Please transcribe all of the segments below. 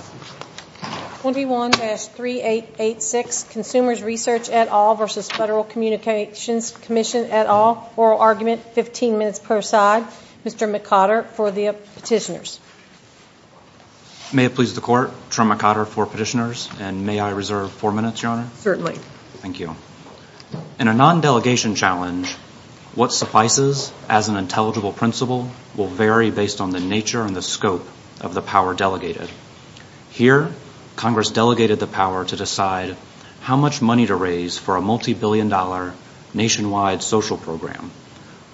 21-3886 Consumers Research et al. v. Federal Communications Commission et al. Oral argument, 15 minutes per side. Mr. McOtter for the petitioners. May it please the Court. Troy McOtter for petitioners. And may I reserve four minutes, Your Honor? Certainly. Thank you. In a non-delegation challenge, what suffices as an intelligible principle will vary based on the nature and the scope of the power delegated. Here, Congress delegated the power to decide how much money to raise for a multibillion-dollar nationwide social program.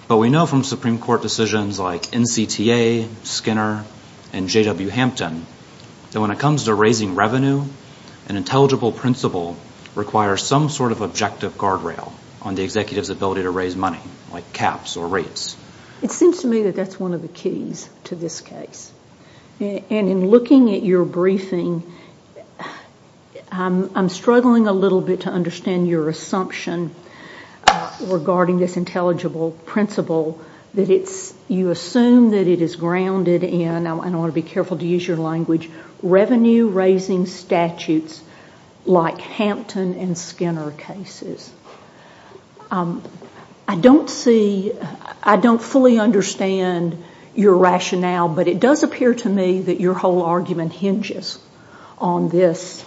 But we know from Supreme Court decisions like NCTA, Skinner, and J.W. Hampton that when it comes to raising revenue, an intelligible principle requires some sort of objective guardrail on the executive's ability to raise money, like caps or rates. It seems to me that that's one of the keys to this case. And in looking at your briefing, I'm struggling a little bit to understand your assumption regarding this intelligible principle that you assume that it is grounded in, and I want to be careful to use your language, revenue-raising statutes like Hampton and Skinner cases. I don't fully understand your rationale, but it does appear to me that your whole argument hinges on this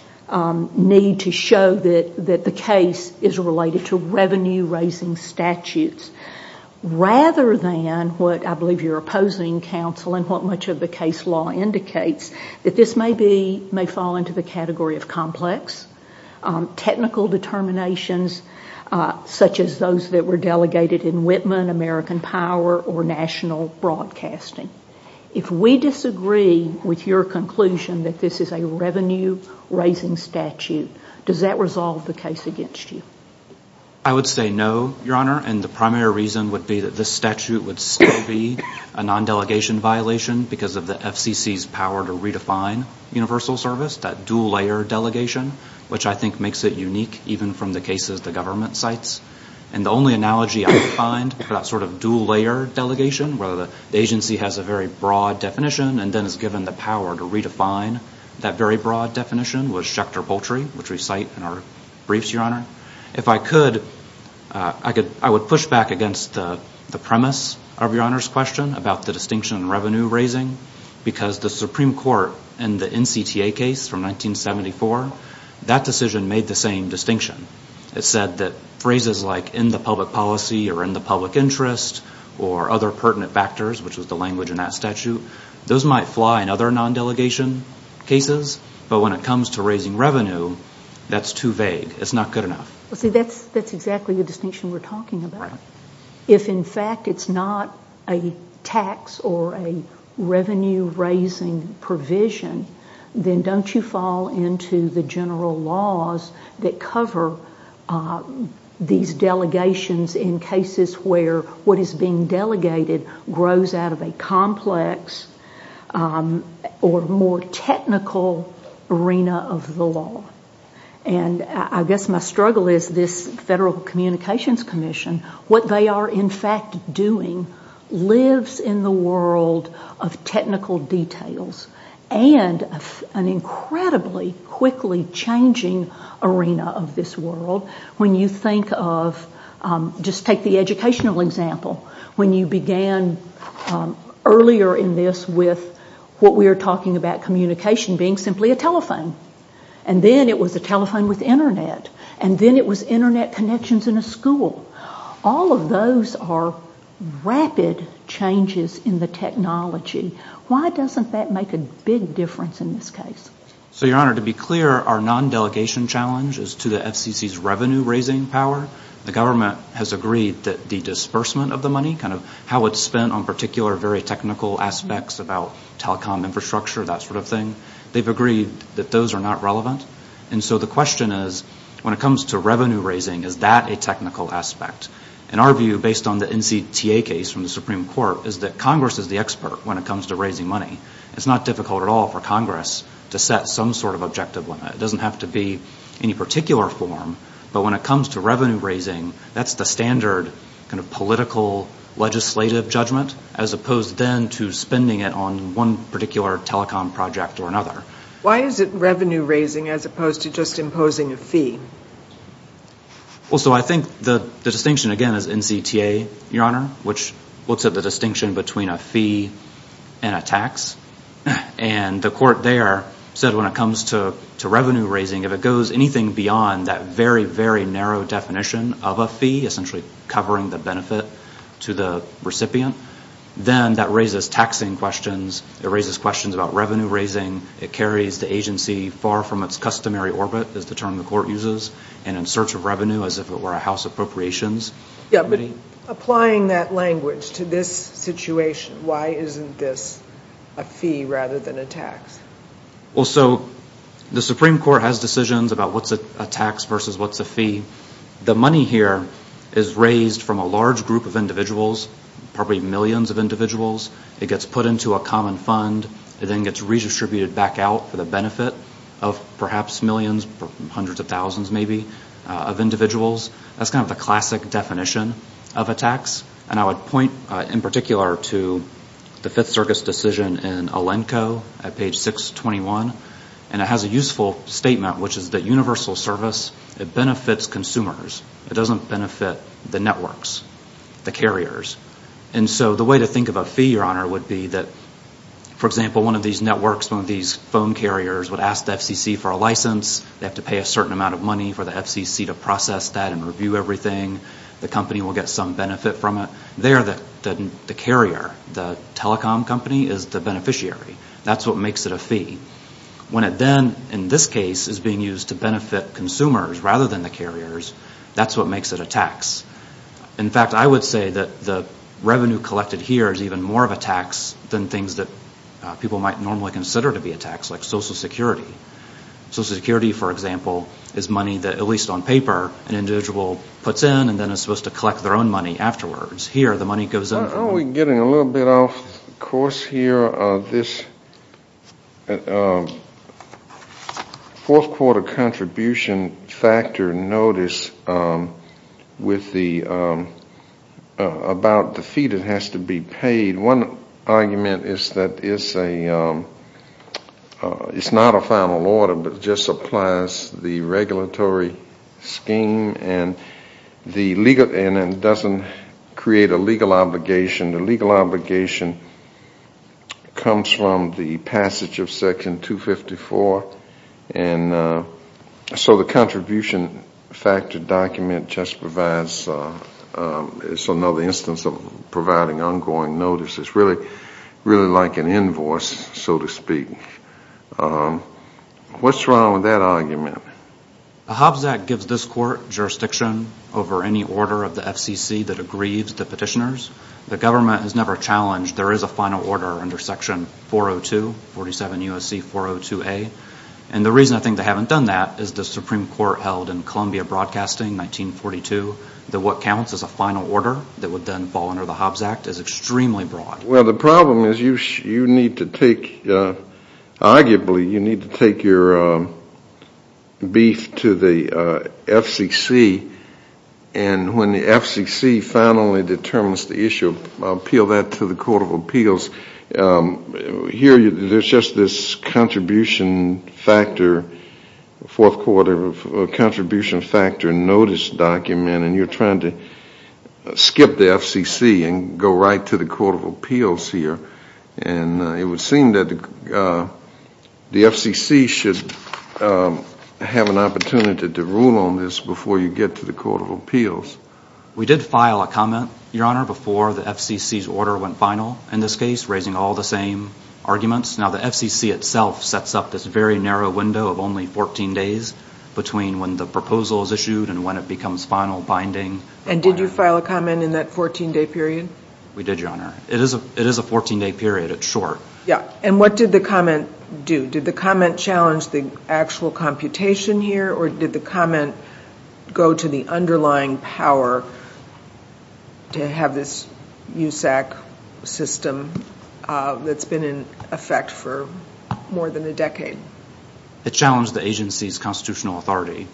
need to show that the case is related to revenue-raising statutes, rather than what I believe your opposing counsel and what much of the case law indicates, that this may fall into the category of complex, technical determinations such as those that were delegated in Whitman, American Power, or national broadcasting. If we disagree with your conclusion that this is a revenue-raising statute, does that resolve the case against you? I would say no, Your Honor, and the primary reason would be that this statute would still be a non-delegation violation because of the FCC's power to redefine universal service, that dual-layer delegation, which I think makes it unique even from the cases the government cites. And the only analogy I could find for that sort of dual-layer delegation, where the agency has a very broad definition and then is given the power to redefine that very broad definition, was Schechter Poultry, which we cite in our briefs, Your Honor. If I could, I would push back against the premise of Your Honor's question about the distinction in revenue-raising, because the Supreme Court in the NCTA case from 1974, that decision made the same distinction. It said that phrases like in the public policy or in the public interest or other pertinent factors, which was the language in that statute, those might fly in other non-delegation cases, but when it comes to raising revenue, that's too vague. It's not good enough. Well, see, that's exactly the distinction we're talking about. If, in fact, it's not a tax or a revenue-raising provision, then don't you fall into the general laws that cover these delegations in cases where what is being delegated grows out of a complex or more technical arena of the law. I guess my struggle is this Federal Communications Commission, what they are in fact doing lives in the world of technical details and an incredibly quickly changing arena of this world. When you think of, just take the educational example, when you began earlier in this with what we are talking about, communication being simply a telephone. And then it was a telephone with Internet. And then it was Internet connections in a school. All of those are rapid changes in the technology. Why doesn't that make a big difference in this case? So, Your Honor, to be clear, our non-delegation challenge is to the FCC's revenue-raising power. The government has agreed that the disbursement of the money, kind of how it's spent on particular very technical aspects about telecom infrastructure, that sort of thing, they've agreed that those are not relevant. And so the question is, when it comes to revenue-raising, is that a technical aspect? And our view, based on the NCTA case from the Supreme Court, is that Congress is the expert when it comes to raising money. It's not difficult at all for Congress to set some sort of objective limit. It doesn't have to be any particular form. But when it comes to revenue-raising, that's the standard kind of political legislative judgment as opposed then to spending it on one particular telecom project or another. Why is it revenue-raising as opposed to just imposing a fee? Well, so I think the distinction, again, is NCTA, Your Honor, which looks at the distinction between a fee and a tax. And the court there said when it comes to revenue-raising, if it goes anything beyond that very, very narrow definition of a fee, essentially covering the benefit to the recipient, then that raises taxing questions. It raises questions about revenue-raising. It carries the agency far from its customary orbit, is the term the court uses, and in search of revenue as if it were a house appropriations committee. Yeah, but applying that language to this situation, why isn't this a fee rather than a tax? Well, so the Supreme Court has decisions about what's a tax versus what's a fee. The money here is raised from a large group of individuals, probably millions of individuals. It gets put into a common fund. It then gets redistributed back out for the benefit of perhaps millions, hundreds of thousands maybe, of individuals. That's kind of the classic definition of a tax. And I would point in particular to the Fifth Circuit's decision in Alenco at page 621. And it has a useful statement, which is that universal service, it benefits consumers. It doesn't benefit the networks, the carriers. And so the way to think of a fee, Your Honor, would be that, for example, one of these networks, one of these phone carriers would ask the FCC for a license. They have to pay a certain amount of money for the FCC to process that and review everything. The company will get some benefit from it. There, the carrier, the telecom company, is the beneficiary. That's what makes it a fee. When it then, in this case, is being used to benefit consumers rather than the carriers, that's what makes it a tax. In fact, I would say that the revenue collected here is even more of a tax than things that people might normally consider to be a tax, like Social Security. Social Security, for example, is money that, at least on paper, an individual puts in and then is supposed to collect their own money afterwards. Here, the money goes up. Now we're getting a little bit off course here. This fourth quarter contribution factor notice about the fee that has to be paid, one argument is that it's not a final order but just applies the regulatory scheme and then doesn't create a legal obligation. The legal obligation comes from the passage of Section 254, and so the contribution factor document just provides another instance of providing ongoing notice. It's really like an invoice, so to speak. What's wrong with that argument? The Hobbs Act gives this court jurisdiction over any order of the FCC that aggrieves the petitioners. The government has never challenged there is a final order under Section 402, 47 U.S.C. 402A, and the reason I think they haven't done that is the Supreme Court held in Columbia Broadcasting, 1942, that what counts as a final order that would then fall under the Hobbs Act is extremely broad. Well, the problem is you need to take, arguably, you need to take your beef to the FCC, and when the FCC finally determines the issue, appeal that to the Court of Appeals. Here, there's just this contribution factor, fourth quarter contribution factor notice document, and you're trying to skip the FCC and go right to the Court of Appeals here, and it would seem that the FCC should have an opportunity to rule on this before you get to the Court of Appeals. We did file a comment, Your Honor, before the FCC's order went final in this case, raising all the same arguments. Now, the FCC itself sets up this very narrow window of only 14 days between when the proposal is issued and when it becomes final binding. And did you file a comment in that 14-day period? We did, Your Honor. It is a 14-day period. It's short. Yeah, and what did the comment do? Did the comment challenge the actual computation here, or did the comment go to the underlying power to have this USAC system that's been in effect for more than a decade? It challenged the agency's constitutional authority,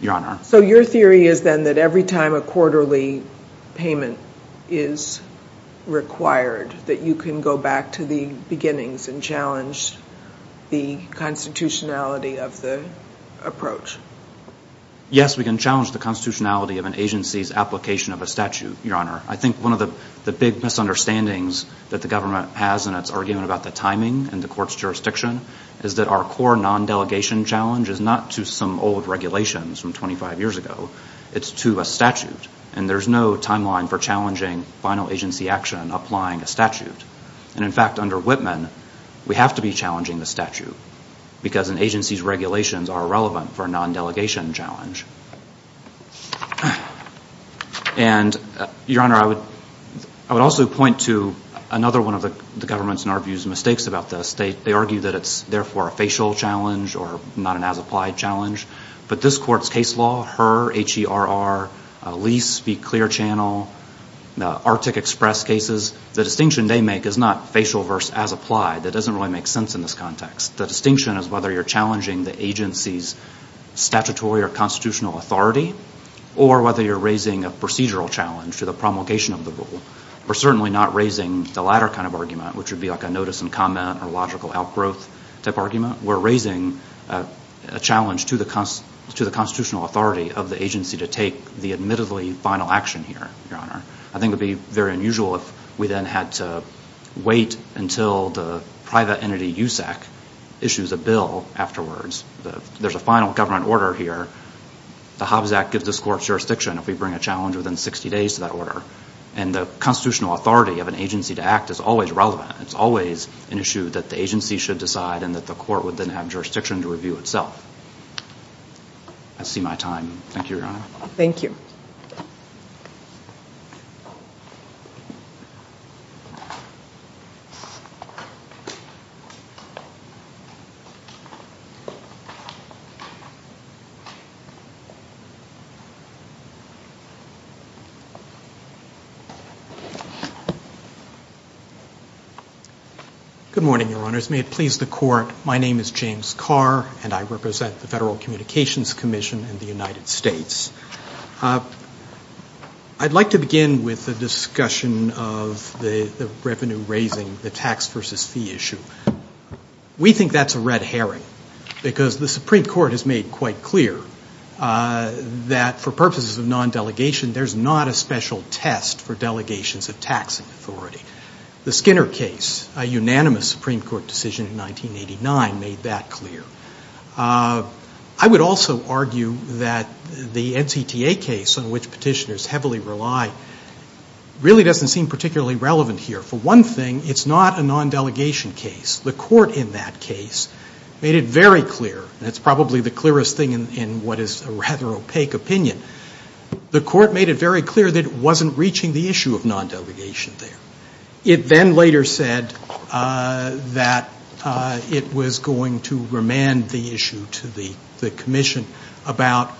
Your Honor. So your theory is then that every time a quarterly payment is required, that you can go back to the beginnings and challenge the constitutionality of the approach? Yes, we can challenge the constitutionality of an agency's application of a statute, Your Honor. I think one of the big misunderstandings that the government has in its argument about the timing and the court's jurisdiction is that our core non-delegation challenge is not to some old regulations from 25 years ago. It's to a statute, and there's no timeline for challenging final agency action applying a statute. And, in fact, under Whitman, we have to be challenging the statute because an agency's regulations are irrelevant for a non-delegation challenge. And, Your Honor, I would also point to another one of the government's, in our view, mistakes about this. They argue that it's, therefore, a facial challenge or not an as-applied challenge. But this court's case law, HERR, H-E-R-R, Lease Be Clear Channel, the Arctic Express cases, the distinction they make is not facial versus as-applied. The distinction is whether you're challenging the agency's statutory or constitutional authority or whether you're raising a procedural challenge to the promulgation of the rule. We're certainly not raising the latter kind of argument, which would be like a notice and comment or logical outgrowth type argument. We're raising a challenge to the constitutional authority of the agency to take the admittedly final action here, Your Honor. I think it would be very unusual if we then had to wait until the private entity USAC issues a bill afterwards. There's a final government order here. The Hobbs Act gives this court jurisdiction if we bring a challenge within 60 days to that order. And the constitutional authority of an agency to act is always relevant. It's always an issue that the agency should decide and that the court would then have jurisdiction to review itself. I see my time. Thank you, Your Honor. Thank you. Good morning, Your Honors. May it please the court, my name is James Carr, and I represent the Federal Communications Commission in the United States. I'd like to begin with a discussion of the revenue-raising, the tax versus fee issue. We think that's a red herring because the Supreme Court has made quite clear that for purposes of non-delegation, there's not a special test for delegations of tax authority. The Skinner case, a unanimous Supreme Court decision in 1989, made that clear. I would also argue that the NCTA case, on which petitioners heavily rely, really doesn't seem particularly relevant here. For one thing, it's not a non-delegation case. The court in that case made it very clear, and it's probably the clearest thing in what is a rather opaque opinion, the court made it very clear that it wasn't reaching the issue of non-delegation there. It then later said that it was going to remand the issue to the commission about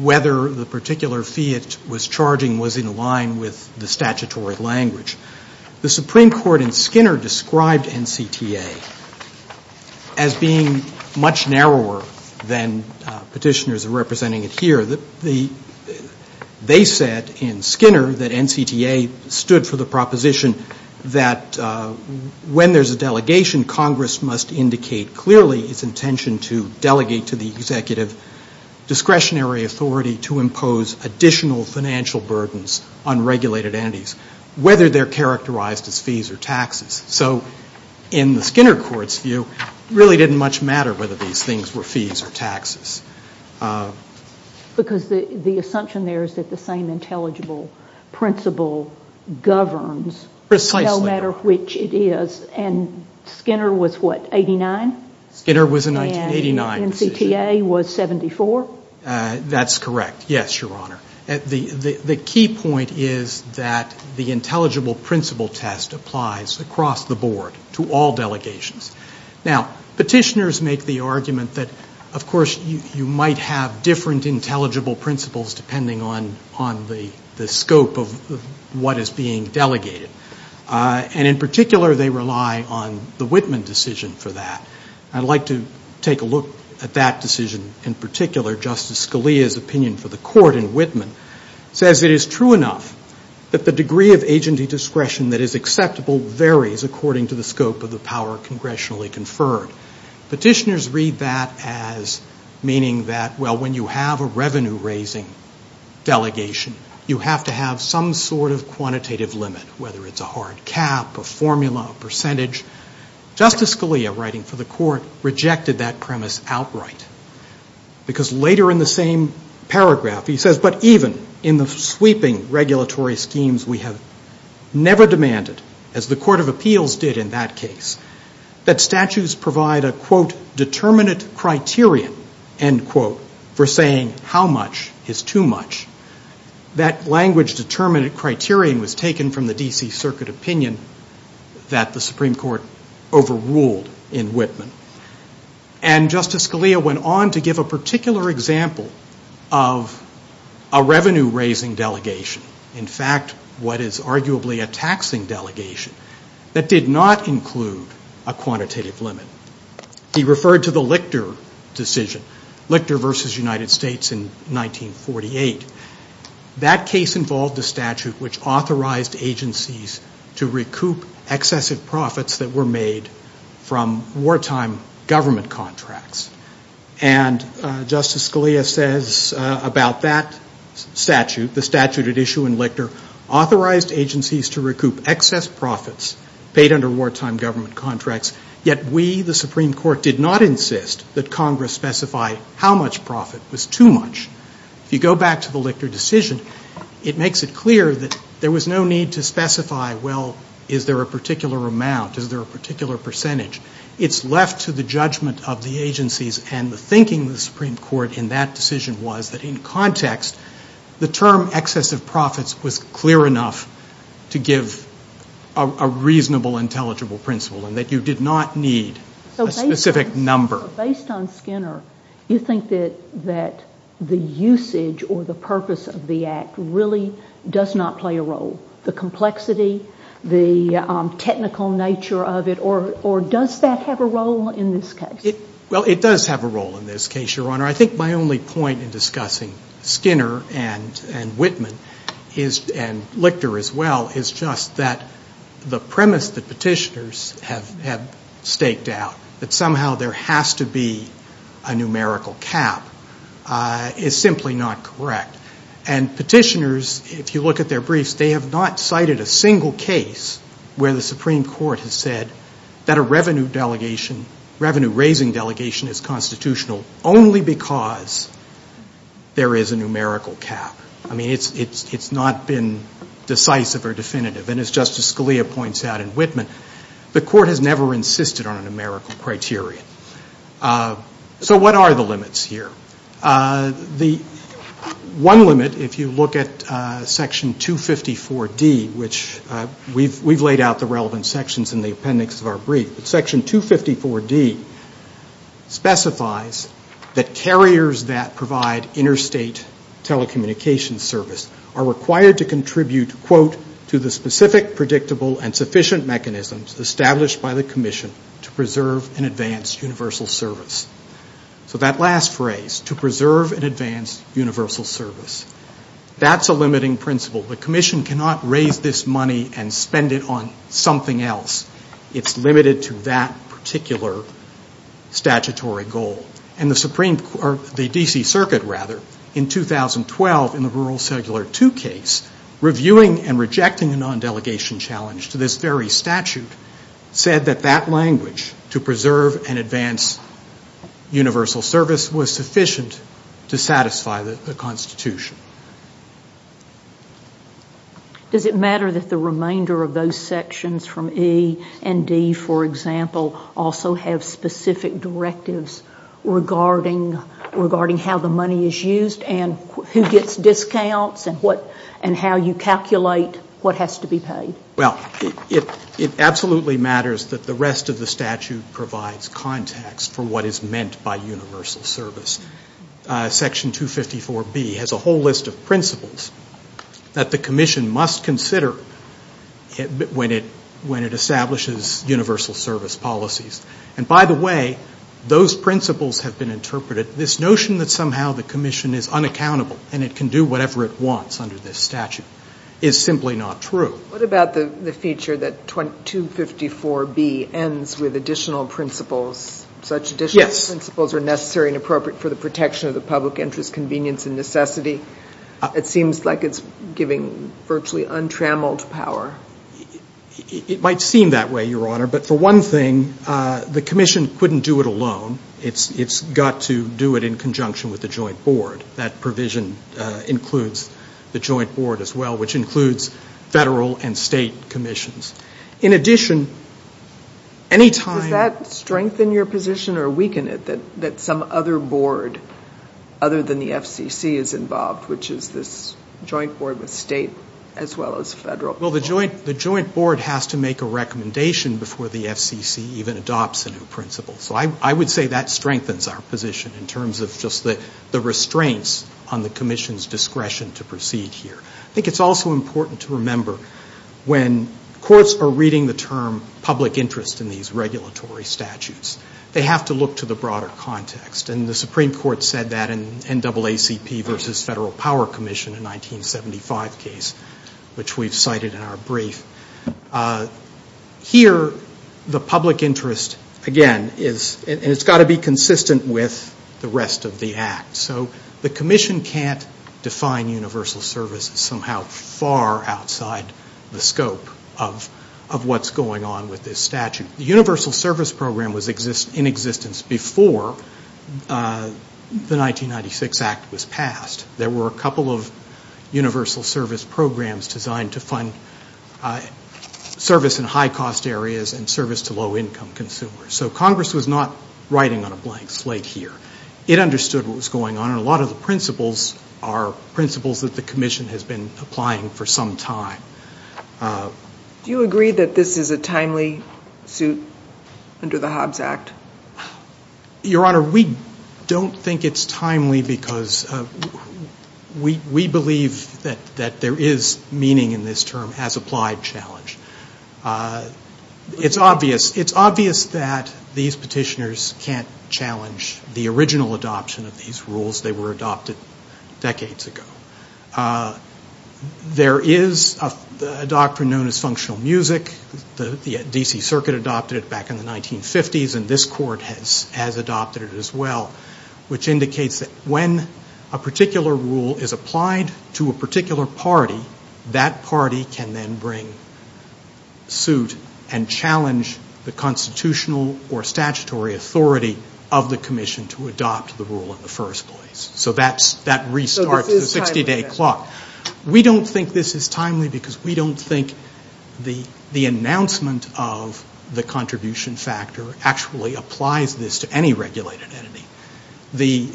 whether the particular fee it was charging was in line with the statutory language. The Supreme Court in Skinner described NCTA as being much narrower than petitioners are representing it here. They said in Skinner that NCTA stood for the proposition that when there's a delegation, Congress must indicate clearly its intention to delegate to the executive discretionary authority to impose additional financial burdens on regulated entities, whether they're characterized as fees or taxes. So in the Skinner court's view, it really didn't much matter whether these things were fees or taxes. Because the assumption there is that the same intelligible principle governs. Precisely. No matter which it is. And Skinner was what, 89? Skinner was an 89 decision. And NCTA was 74? That's correct. Yes, Your Honor. The key point is that the intelligible principle test applies across the board to all delegations. Now, petitioners make the argument that, of course, you might have different intelligible principles depending on the scope of what is being delegated. And in particular, they rely on the Whitman decision for that. I'd like to take a look at that decision in particular. Justice Scalia's opinion for the court in Whitman says it is true enough that the degree of agency discretion that is acceptable varies according to the scope of the power congressionally conferred. Petitioners read that as meaning that, well, when you have a revenue-raising delegation, you have to have some sort of quantitative limit, whether it's a hard cap, a formula, a percentage. Justice Scalia, writing for the court, rejected that premise outright. Because later in the same paragraph, he says, but even in the sweeping regulatory schemes we have never demanded, as the Court of Appeals did in that case, that statutes provide a, quote, determinate criterion, end quote, for saying how much is too much. That language, determinate criterion, was taken from the D.C. Circuit opinion that the Supreme Court overruled in Whitman. And Justice Scalia went on to give a particular example of a revenue-raising delegation, in fact, what is arguably a taxing delegation, that did not include a quantitative limit. He referred to the Lichter decision, Lichter v. United States in 1948. That case involved a statute which authorized agencies to recoup excessive profits that were made from wartime government contracts. And Justice Scalia says about that statute, the statute at issue in Lichter, authorized agencies to recoup excess profits paid under wartime government contracts, yet we, the Supreme Court, did not insist that Congress specify how much profit was too much. If you go back to the Lichter decision, it makes it clear that there was no need to specify, well, is there a particular amount, is there a particular percentage? It's left to the judgment of the agencies and the thinking of the Supreme Court in that decision was that in context, the term excessive profits was clear enough to give a reasonable, intelligible principle, and that you did not need a specific number. But based on Skinner, you think that the usage or the purpose of the act really does not play a role? The complexity, the technical nature of it, or does that have a role in this case? Well, it does have a role in this case, Your Honor. I think my only point in discussing Skinner and Whitman and Lichter as well is just that the premise that petitioners have staked out, that somehow there has to be a numerical cap, is simply not correct. And petitioners, if you look at their briefs, they have not cited a single case where the Supreme Court has said that a revenue raising delegation is constitutional only because there is a numerical cap. I mean, it's not been decisive or definitive. And as Justice Scalia points out in Whitman, the Court has never insisted on a numerical criteria. So what are the limits here? The one limit, if you look at Section 254D, which we've laid out the relevant sections in the appendix of our brief, but Section 254D specifies that carriers that provide interstate telecommunications service are required to contribute, quote, to the specific, predictable, and sufficient mechanisms established by the Commission to preserve and advance universal service. So that last phrase, to preserve and advance universal service, that's a limiting principle. The Commission cannot raise this money and spend it on something else. It's limited to that particular statutory goal. And the D.C. Circuit, rather, in 2012, in the Rural Cellular II case, reviewing and rejecting a non-delegation challenge to this very statute, said that that language, to preserve and advance universal service, was sufficient to satisfy the Constitution. Does it matter that the remainder of those sections from E and D, for example, also have specific directives regarding how the money is used and who gets discounts and how you calculate what has to be paid? Well, it absolutely matters that the rest of the statute provides context for what is meant by universal service. Section 254B has a whole list of principles that the Commission must consider when it establishes universal service policies. And by the way, those principles have been interpreted. This notion that somehow the Commission is unaccountable and it can do whatever it wants under this statute is simply not true. What about the feature that 254B ends with additional principles, such additional principles are necessary and appropriate for the protection of the public interest, convenience and necessity? It seems like it's giving virtually untrammeled power. It might seem that way, Your Honor, but for one thing, the Commission couldn't do it alone. It's got to do it in conjunction with the Joint Board. That provision includes the Joint Board as well, which includes federal and state commissions. Does that strengthen your position or weaken it, that some other board other than the FCC is involved, which is this Joint Board with state as well as federal? Well, the Joint Board has to make a recommendation before the FCC even adopts a new principle. So I would say that strengthens our position in terms of just the restraints on the Commission's discretion to proceed here. I think it's also important to remember when courts are reading the term public interest in these regulatory statutes, they have to look to the broader context, and the Supreme Court said that in NAACP versus Federal Power Commission in 1975 case, which we've cited in our brief. Here, the public interest, again, and it's got to be consistent with the rest of the Act. So the Commission can't define universal services somehow far outside the scope of what's going on with this statute. The universal service program was in existence before the 1996 Act was passed. There were a couple of universal service programs designed to fund service in high-cost areas and service to low-income consumers. So Congress was not writing on a blank slate here. It understood what was going on, and a lot of the principles are principles that the Commission has been applying for some time. Do you agree that this is a timely suit under the Hobbs Act? Your Honor, we don't think it's timely because we believe that there is meaning in this term, as applied challenge. It's obvious that these petitioners can't challenge the original adoption of these rules. They were adopted decades ago. There is a doctrine known as functional music. The D.C. Circuit adopted it back in the 1950s, and this Court has adopted it as well, which indicates that when a particular rule is applied to a particular party, that party can then bring suit and challenge the constitutional or statutory authority of the Commission to adopt the rule in the first place. So that restarts the 60-day clock. We don't think this is timely because we don't think the announcement of the contribution factor actually applies this to any regulated entity. The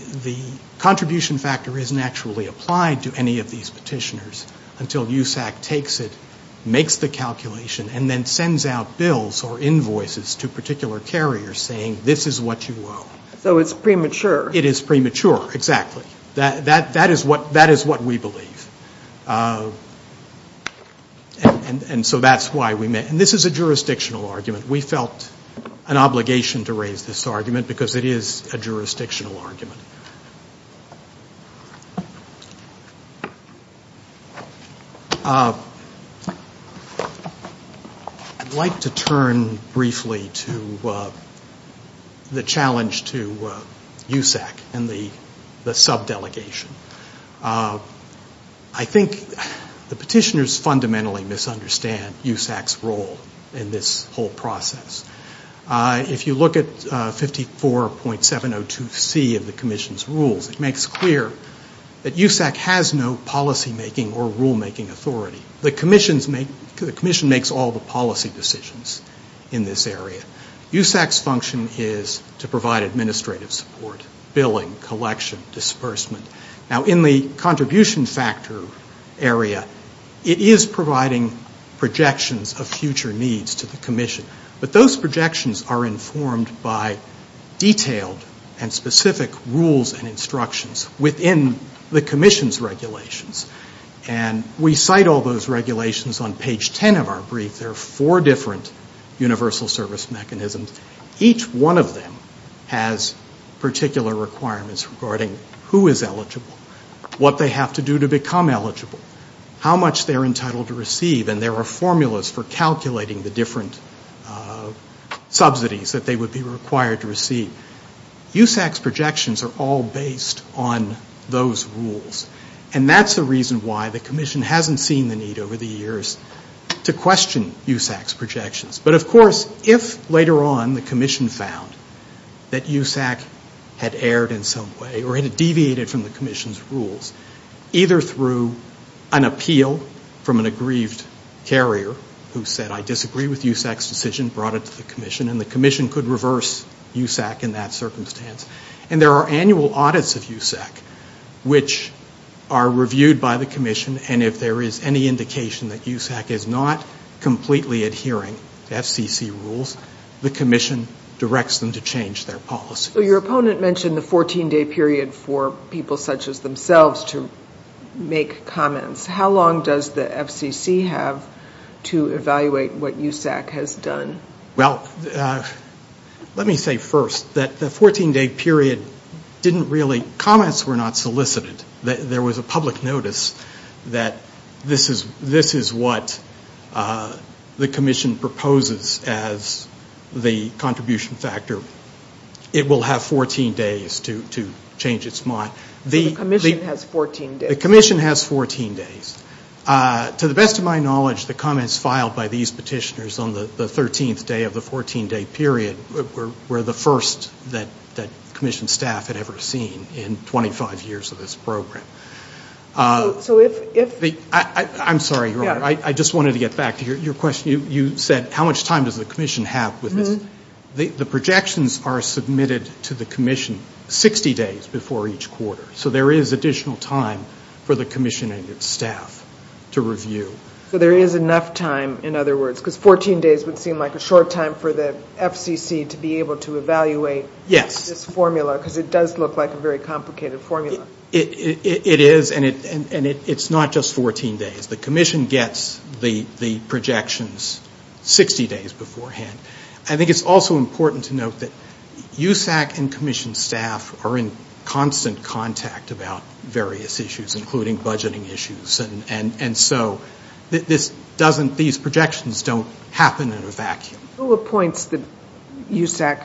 contribution factor isn't actually applied to any of these petitioners until USAC takes it, makes the calculation, and then sends out bills or invoices to particular carriers saying, this is what you owe. So it's premature. It is premature, exactly. That is what we believe. And so that's why we met. And this is a jurisdictional argument. We felt an obligation to raise this argument because it is a jurisdictional argument. I'd like to turn briefly to the challenge to USAC and the subdelegation. I think the petitioners fundamentally misunderstand USAC's role in this whole process. If you look at 54.702C of the Commission's rules, it makes clear that USAC has no policymaking or rulemaking authority. The Commission makes all the policy decisions in this area. USAC's function is to provide administrative support, billing, collection, disbursement. Now, in the contribution factor area, it is providing projections of future needs to the Commission. But those projections are informed by detailed and specific rules and instructions within the Commission's regulations. And we cite all those regulations on page 10 of our brief. There are four different universal service mechanisms. Each one of them has particular requirements regarding who is eligible, what they have to do to become eligible, how much they're entitled to receive, and there are formulas for calculating the different subsidies that they would be required to receive. USAC's projections are all based on those rules. And that's the reason why the Commission hasn't seen the need over the years to question USAC's projections. But of course, if later on the Commission found that USAC had erred in some way or had deviated from the Commission's rules, either through an appeal from an aggrieved carrier who said, I disagree with USAC's decision, brought it to the Commission, and the Commission could reverse USAC in that circumstance. And there are annual audits of USAC which are reviewed by the Commission, and if there is any indication that USAC is not completely adhering to FCC rules, the Commission directs them to change their policy. So your opponent mentioned the 14-day period for people such as themselves to make comments. How long does the FCC have to evaluate what USAC has done? Well, let me say first that the 14-day period didn't really, comments were not solicited. There was a public notice that this is what the Commission proposes as the contribution factor. It will have 14 days to change its mind. The Commission has 14 days. To the best of my knowledge, the comments filed by these petitioners on the 13th day of the 14-day period were the first that Commission staff had ever seen in 25 years of this program. I'm sorry, Your Honor, I just wanted to get back to your question. You said how much time does the Commission have with this? So there is additional time for the Commission and its staff to review. So there is enough time, in other words, because 14 days would seem like a short time for the FCC to be able to evaluate this formula, because it does look like a very complicated formula. It is, and it's not just 14 days. The Commission gets the projections 60 days beforehand. I think it's also important to note that USAC and Commission staff are in constant contact about various issues, including budgeting issues, and so these projections don't happen in a vacuum. Who appoints the USAC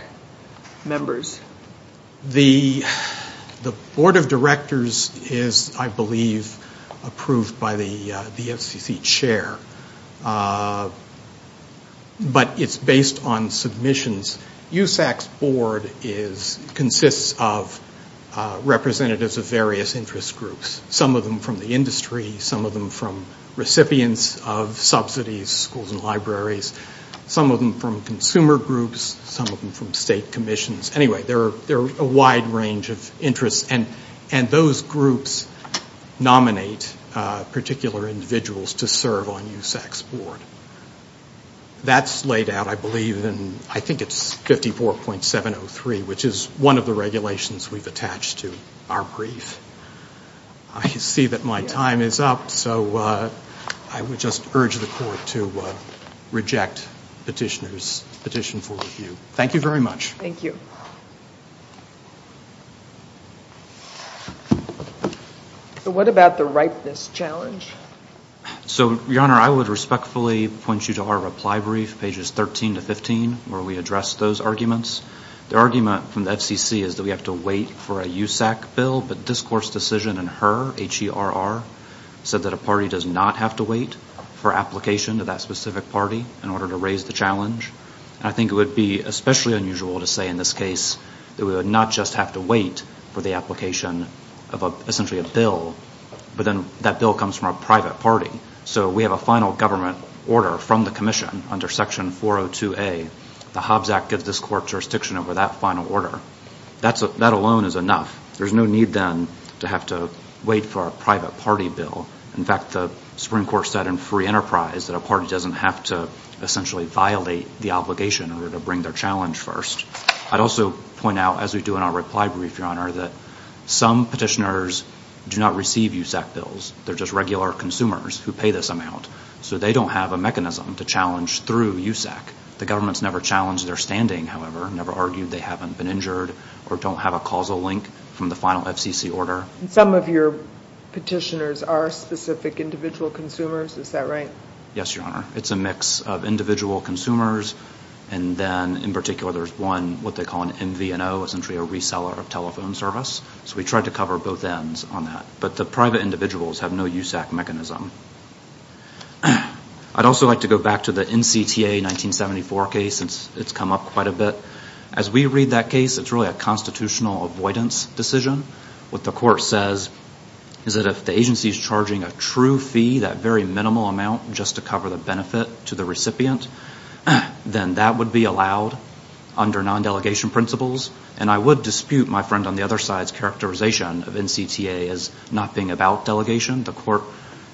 members? The Board of Directors is, I believe, approved by the FCC chair. But it's based on submissions. USAC's board consists of representatives of various interest groups, some of them from the industry, some of them from recipients of subsidies, schools and libraries, some of them from consumer groups, some of them from state commissions. Anyway, there are a wide range of interests, and those groups nominate particular individuals to serve on USAC. And the Board of Directors nominates a particular individual to serve on the USAC's board. That's laid out, I believe, in, I think it's 54.703, which is one of the regulations we've attached to our brief. I see that my time is up, so I would just urge the Court to reject the petitioner's petition for review. Thank you very much. Thank you. So what about the ripeness challenge? So, Your Honor, I would respectfully point you to our reply brief, pages 13 to 15, where we address those arguments. The argument from the FCC is that we have to wait for a USAC bill, but the discourse decision in HERR, H-E-R-R, said that a party does not have to wait for application to that specific party in order to raise the challenge. And I think it would be especially unusual to say in this case that we would not just have to wait for the application of essentially a bill, but then that bill comes from a private party. So we have a final government order from the commission under Section 402A. The Hobbs Act gives this Court jurisdiction over that final order. That alone is enough. There's no need, then, to have to wait for a private party bill. In fact, the Supreme Court said in Free Enterprise that a party doesn't have to essentially violate the obligation in order to bring their challenge first. I'd also point out, as we do in our reply brief, Your Honor, that some petitioners do not receive USAC bills. They're just regular consumers who pay this amount. So they don't have a mechanism to challenge through USAC. The government's never challenged their standing, however, never argued they haven't been injured or don't have a causal link from the final FCC order. And some of your petitioners are specific individual consumers, is that right? Yes, Your Honor. It's a mix of individual consumers, and then in particular there's one, what they call an MVNO, essentially a reseller of telephone service. So we tried to cover both ends on that. But the private individuals have no USAC mechanism. I'd also like to go back to the NCTA 1974 case, since it's come up quite a bit. As we read that case, it's really a constitutional avoidance decision. What the Court says is that if the agency's charging a true fee, that very minimal amount, just to cover the benefit to the recipient, then that would be allowed under non-delegation principles. And I would dispute, my friend, on the other side's characterization of NCTA as not being about delegation. The Court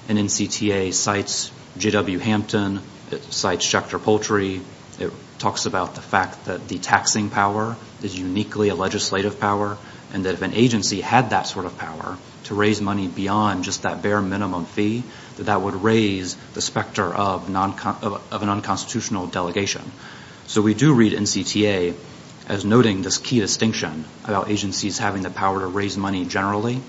in NCTA cites J.W. Hampton. It cites Schechter Poultry. It talks about the fact that the taxing power is uniquely a legislative power, and that if an agency had that sort of power to raise money beyond just that bare minimum fee, that that would raise the specter of an unconstitutional delegation. So we do read NCTA as noting this key distinction about agencies having the power to raise money generally,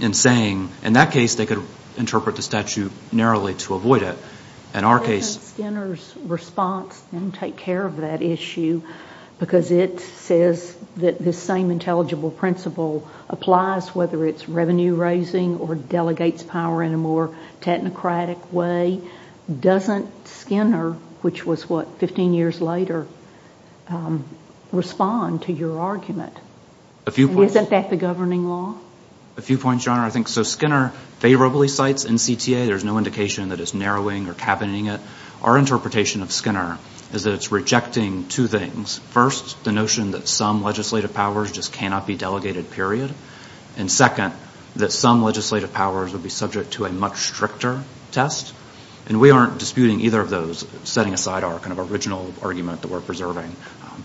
and saying, in that case, they could interpret the statute narrowly to avoid it. In our case... Because it says that this same intelligible principle applies, whether it's revenue-raising or delegates power in a more technocratic way, doesn't Skinner, which was what 15 years later, respond to your argument? And isn't that the governing law? A few points, Your Honor. So Skinner favorably cites NCTA. There's no indication that it's narrowing or cabineting it. Our interpretation of Skinner is that it's rejecting two things. First, the notion that some legislative powers just cannot be delegated, period. And second, that some legislative powers would be subject to a much stricter test. And we aren't disputing either of those, setting aside our kind of original argument that we're preserving.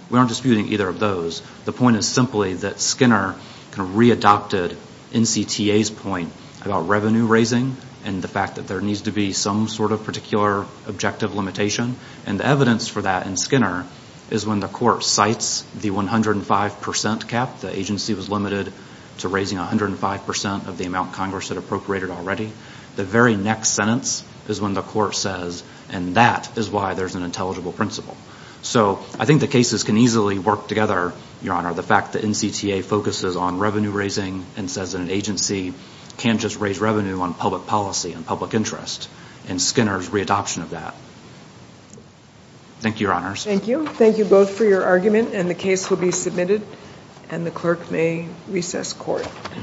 We aren't disputing either of those. The point is simply that Skinner kind of readopted NCTA's point about revenue-raising and the fact that there needs to be some sort of particular objective limitation. And the evidence for that in Skinner is when the court cites the 105% cap. The agency was limited to raising 105% of the amount Congress had appropriated already. The very next sentence is when the court says, and that is why there's an intelligible principle. So I think the cases can easily work together, Your Honor. The fact that NCTA focuses on revenue-raising and says that an agency can't just raise revenue on public policy and public interest, and Skinner's readoption of that.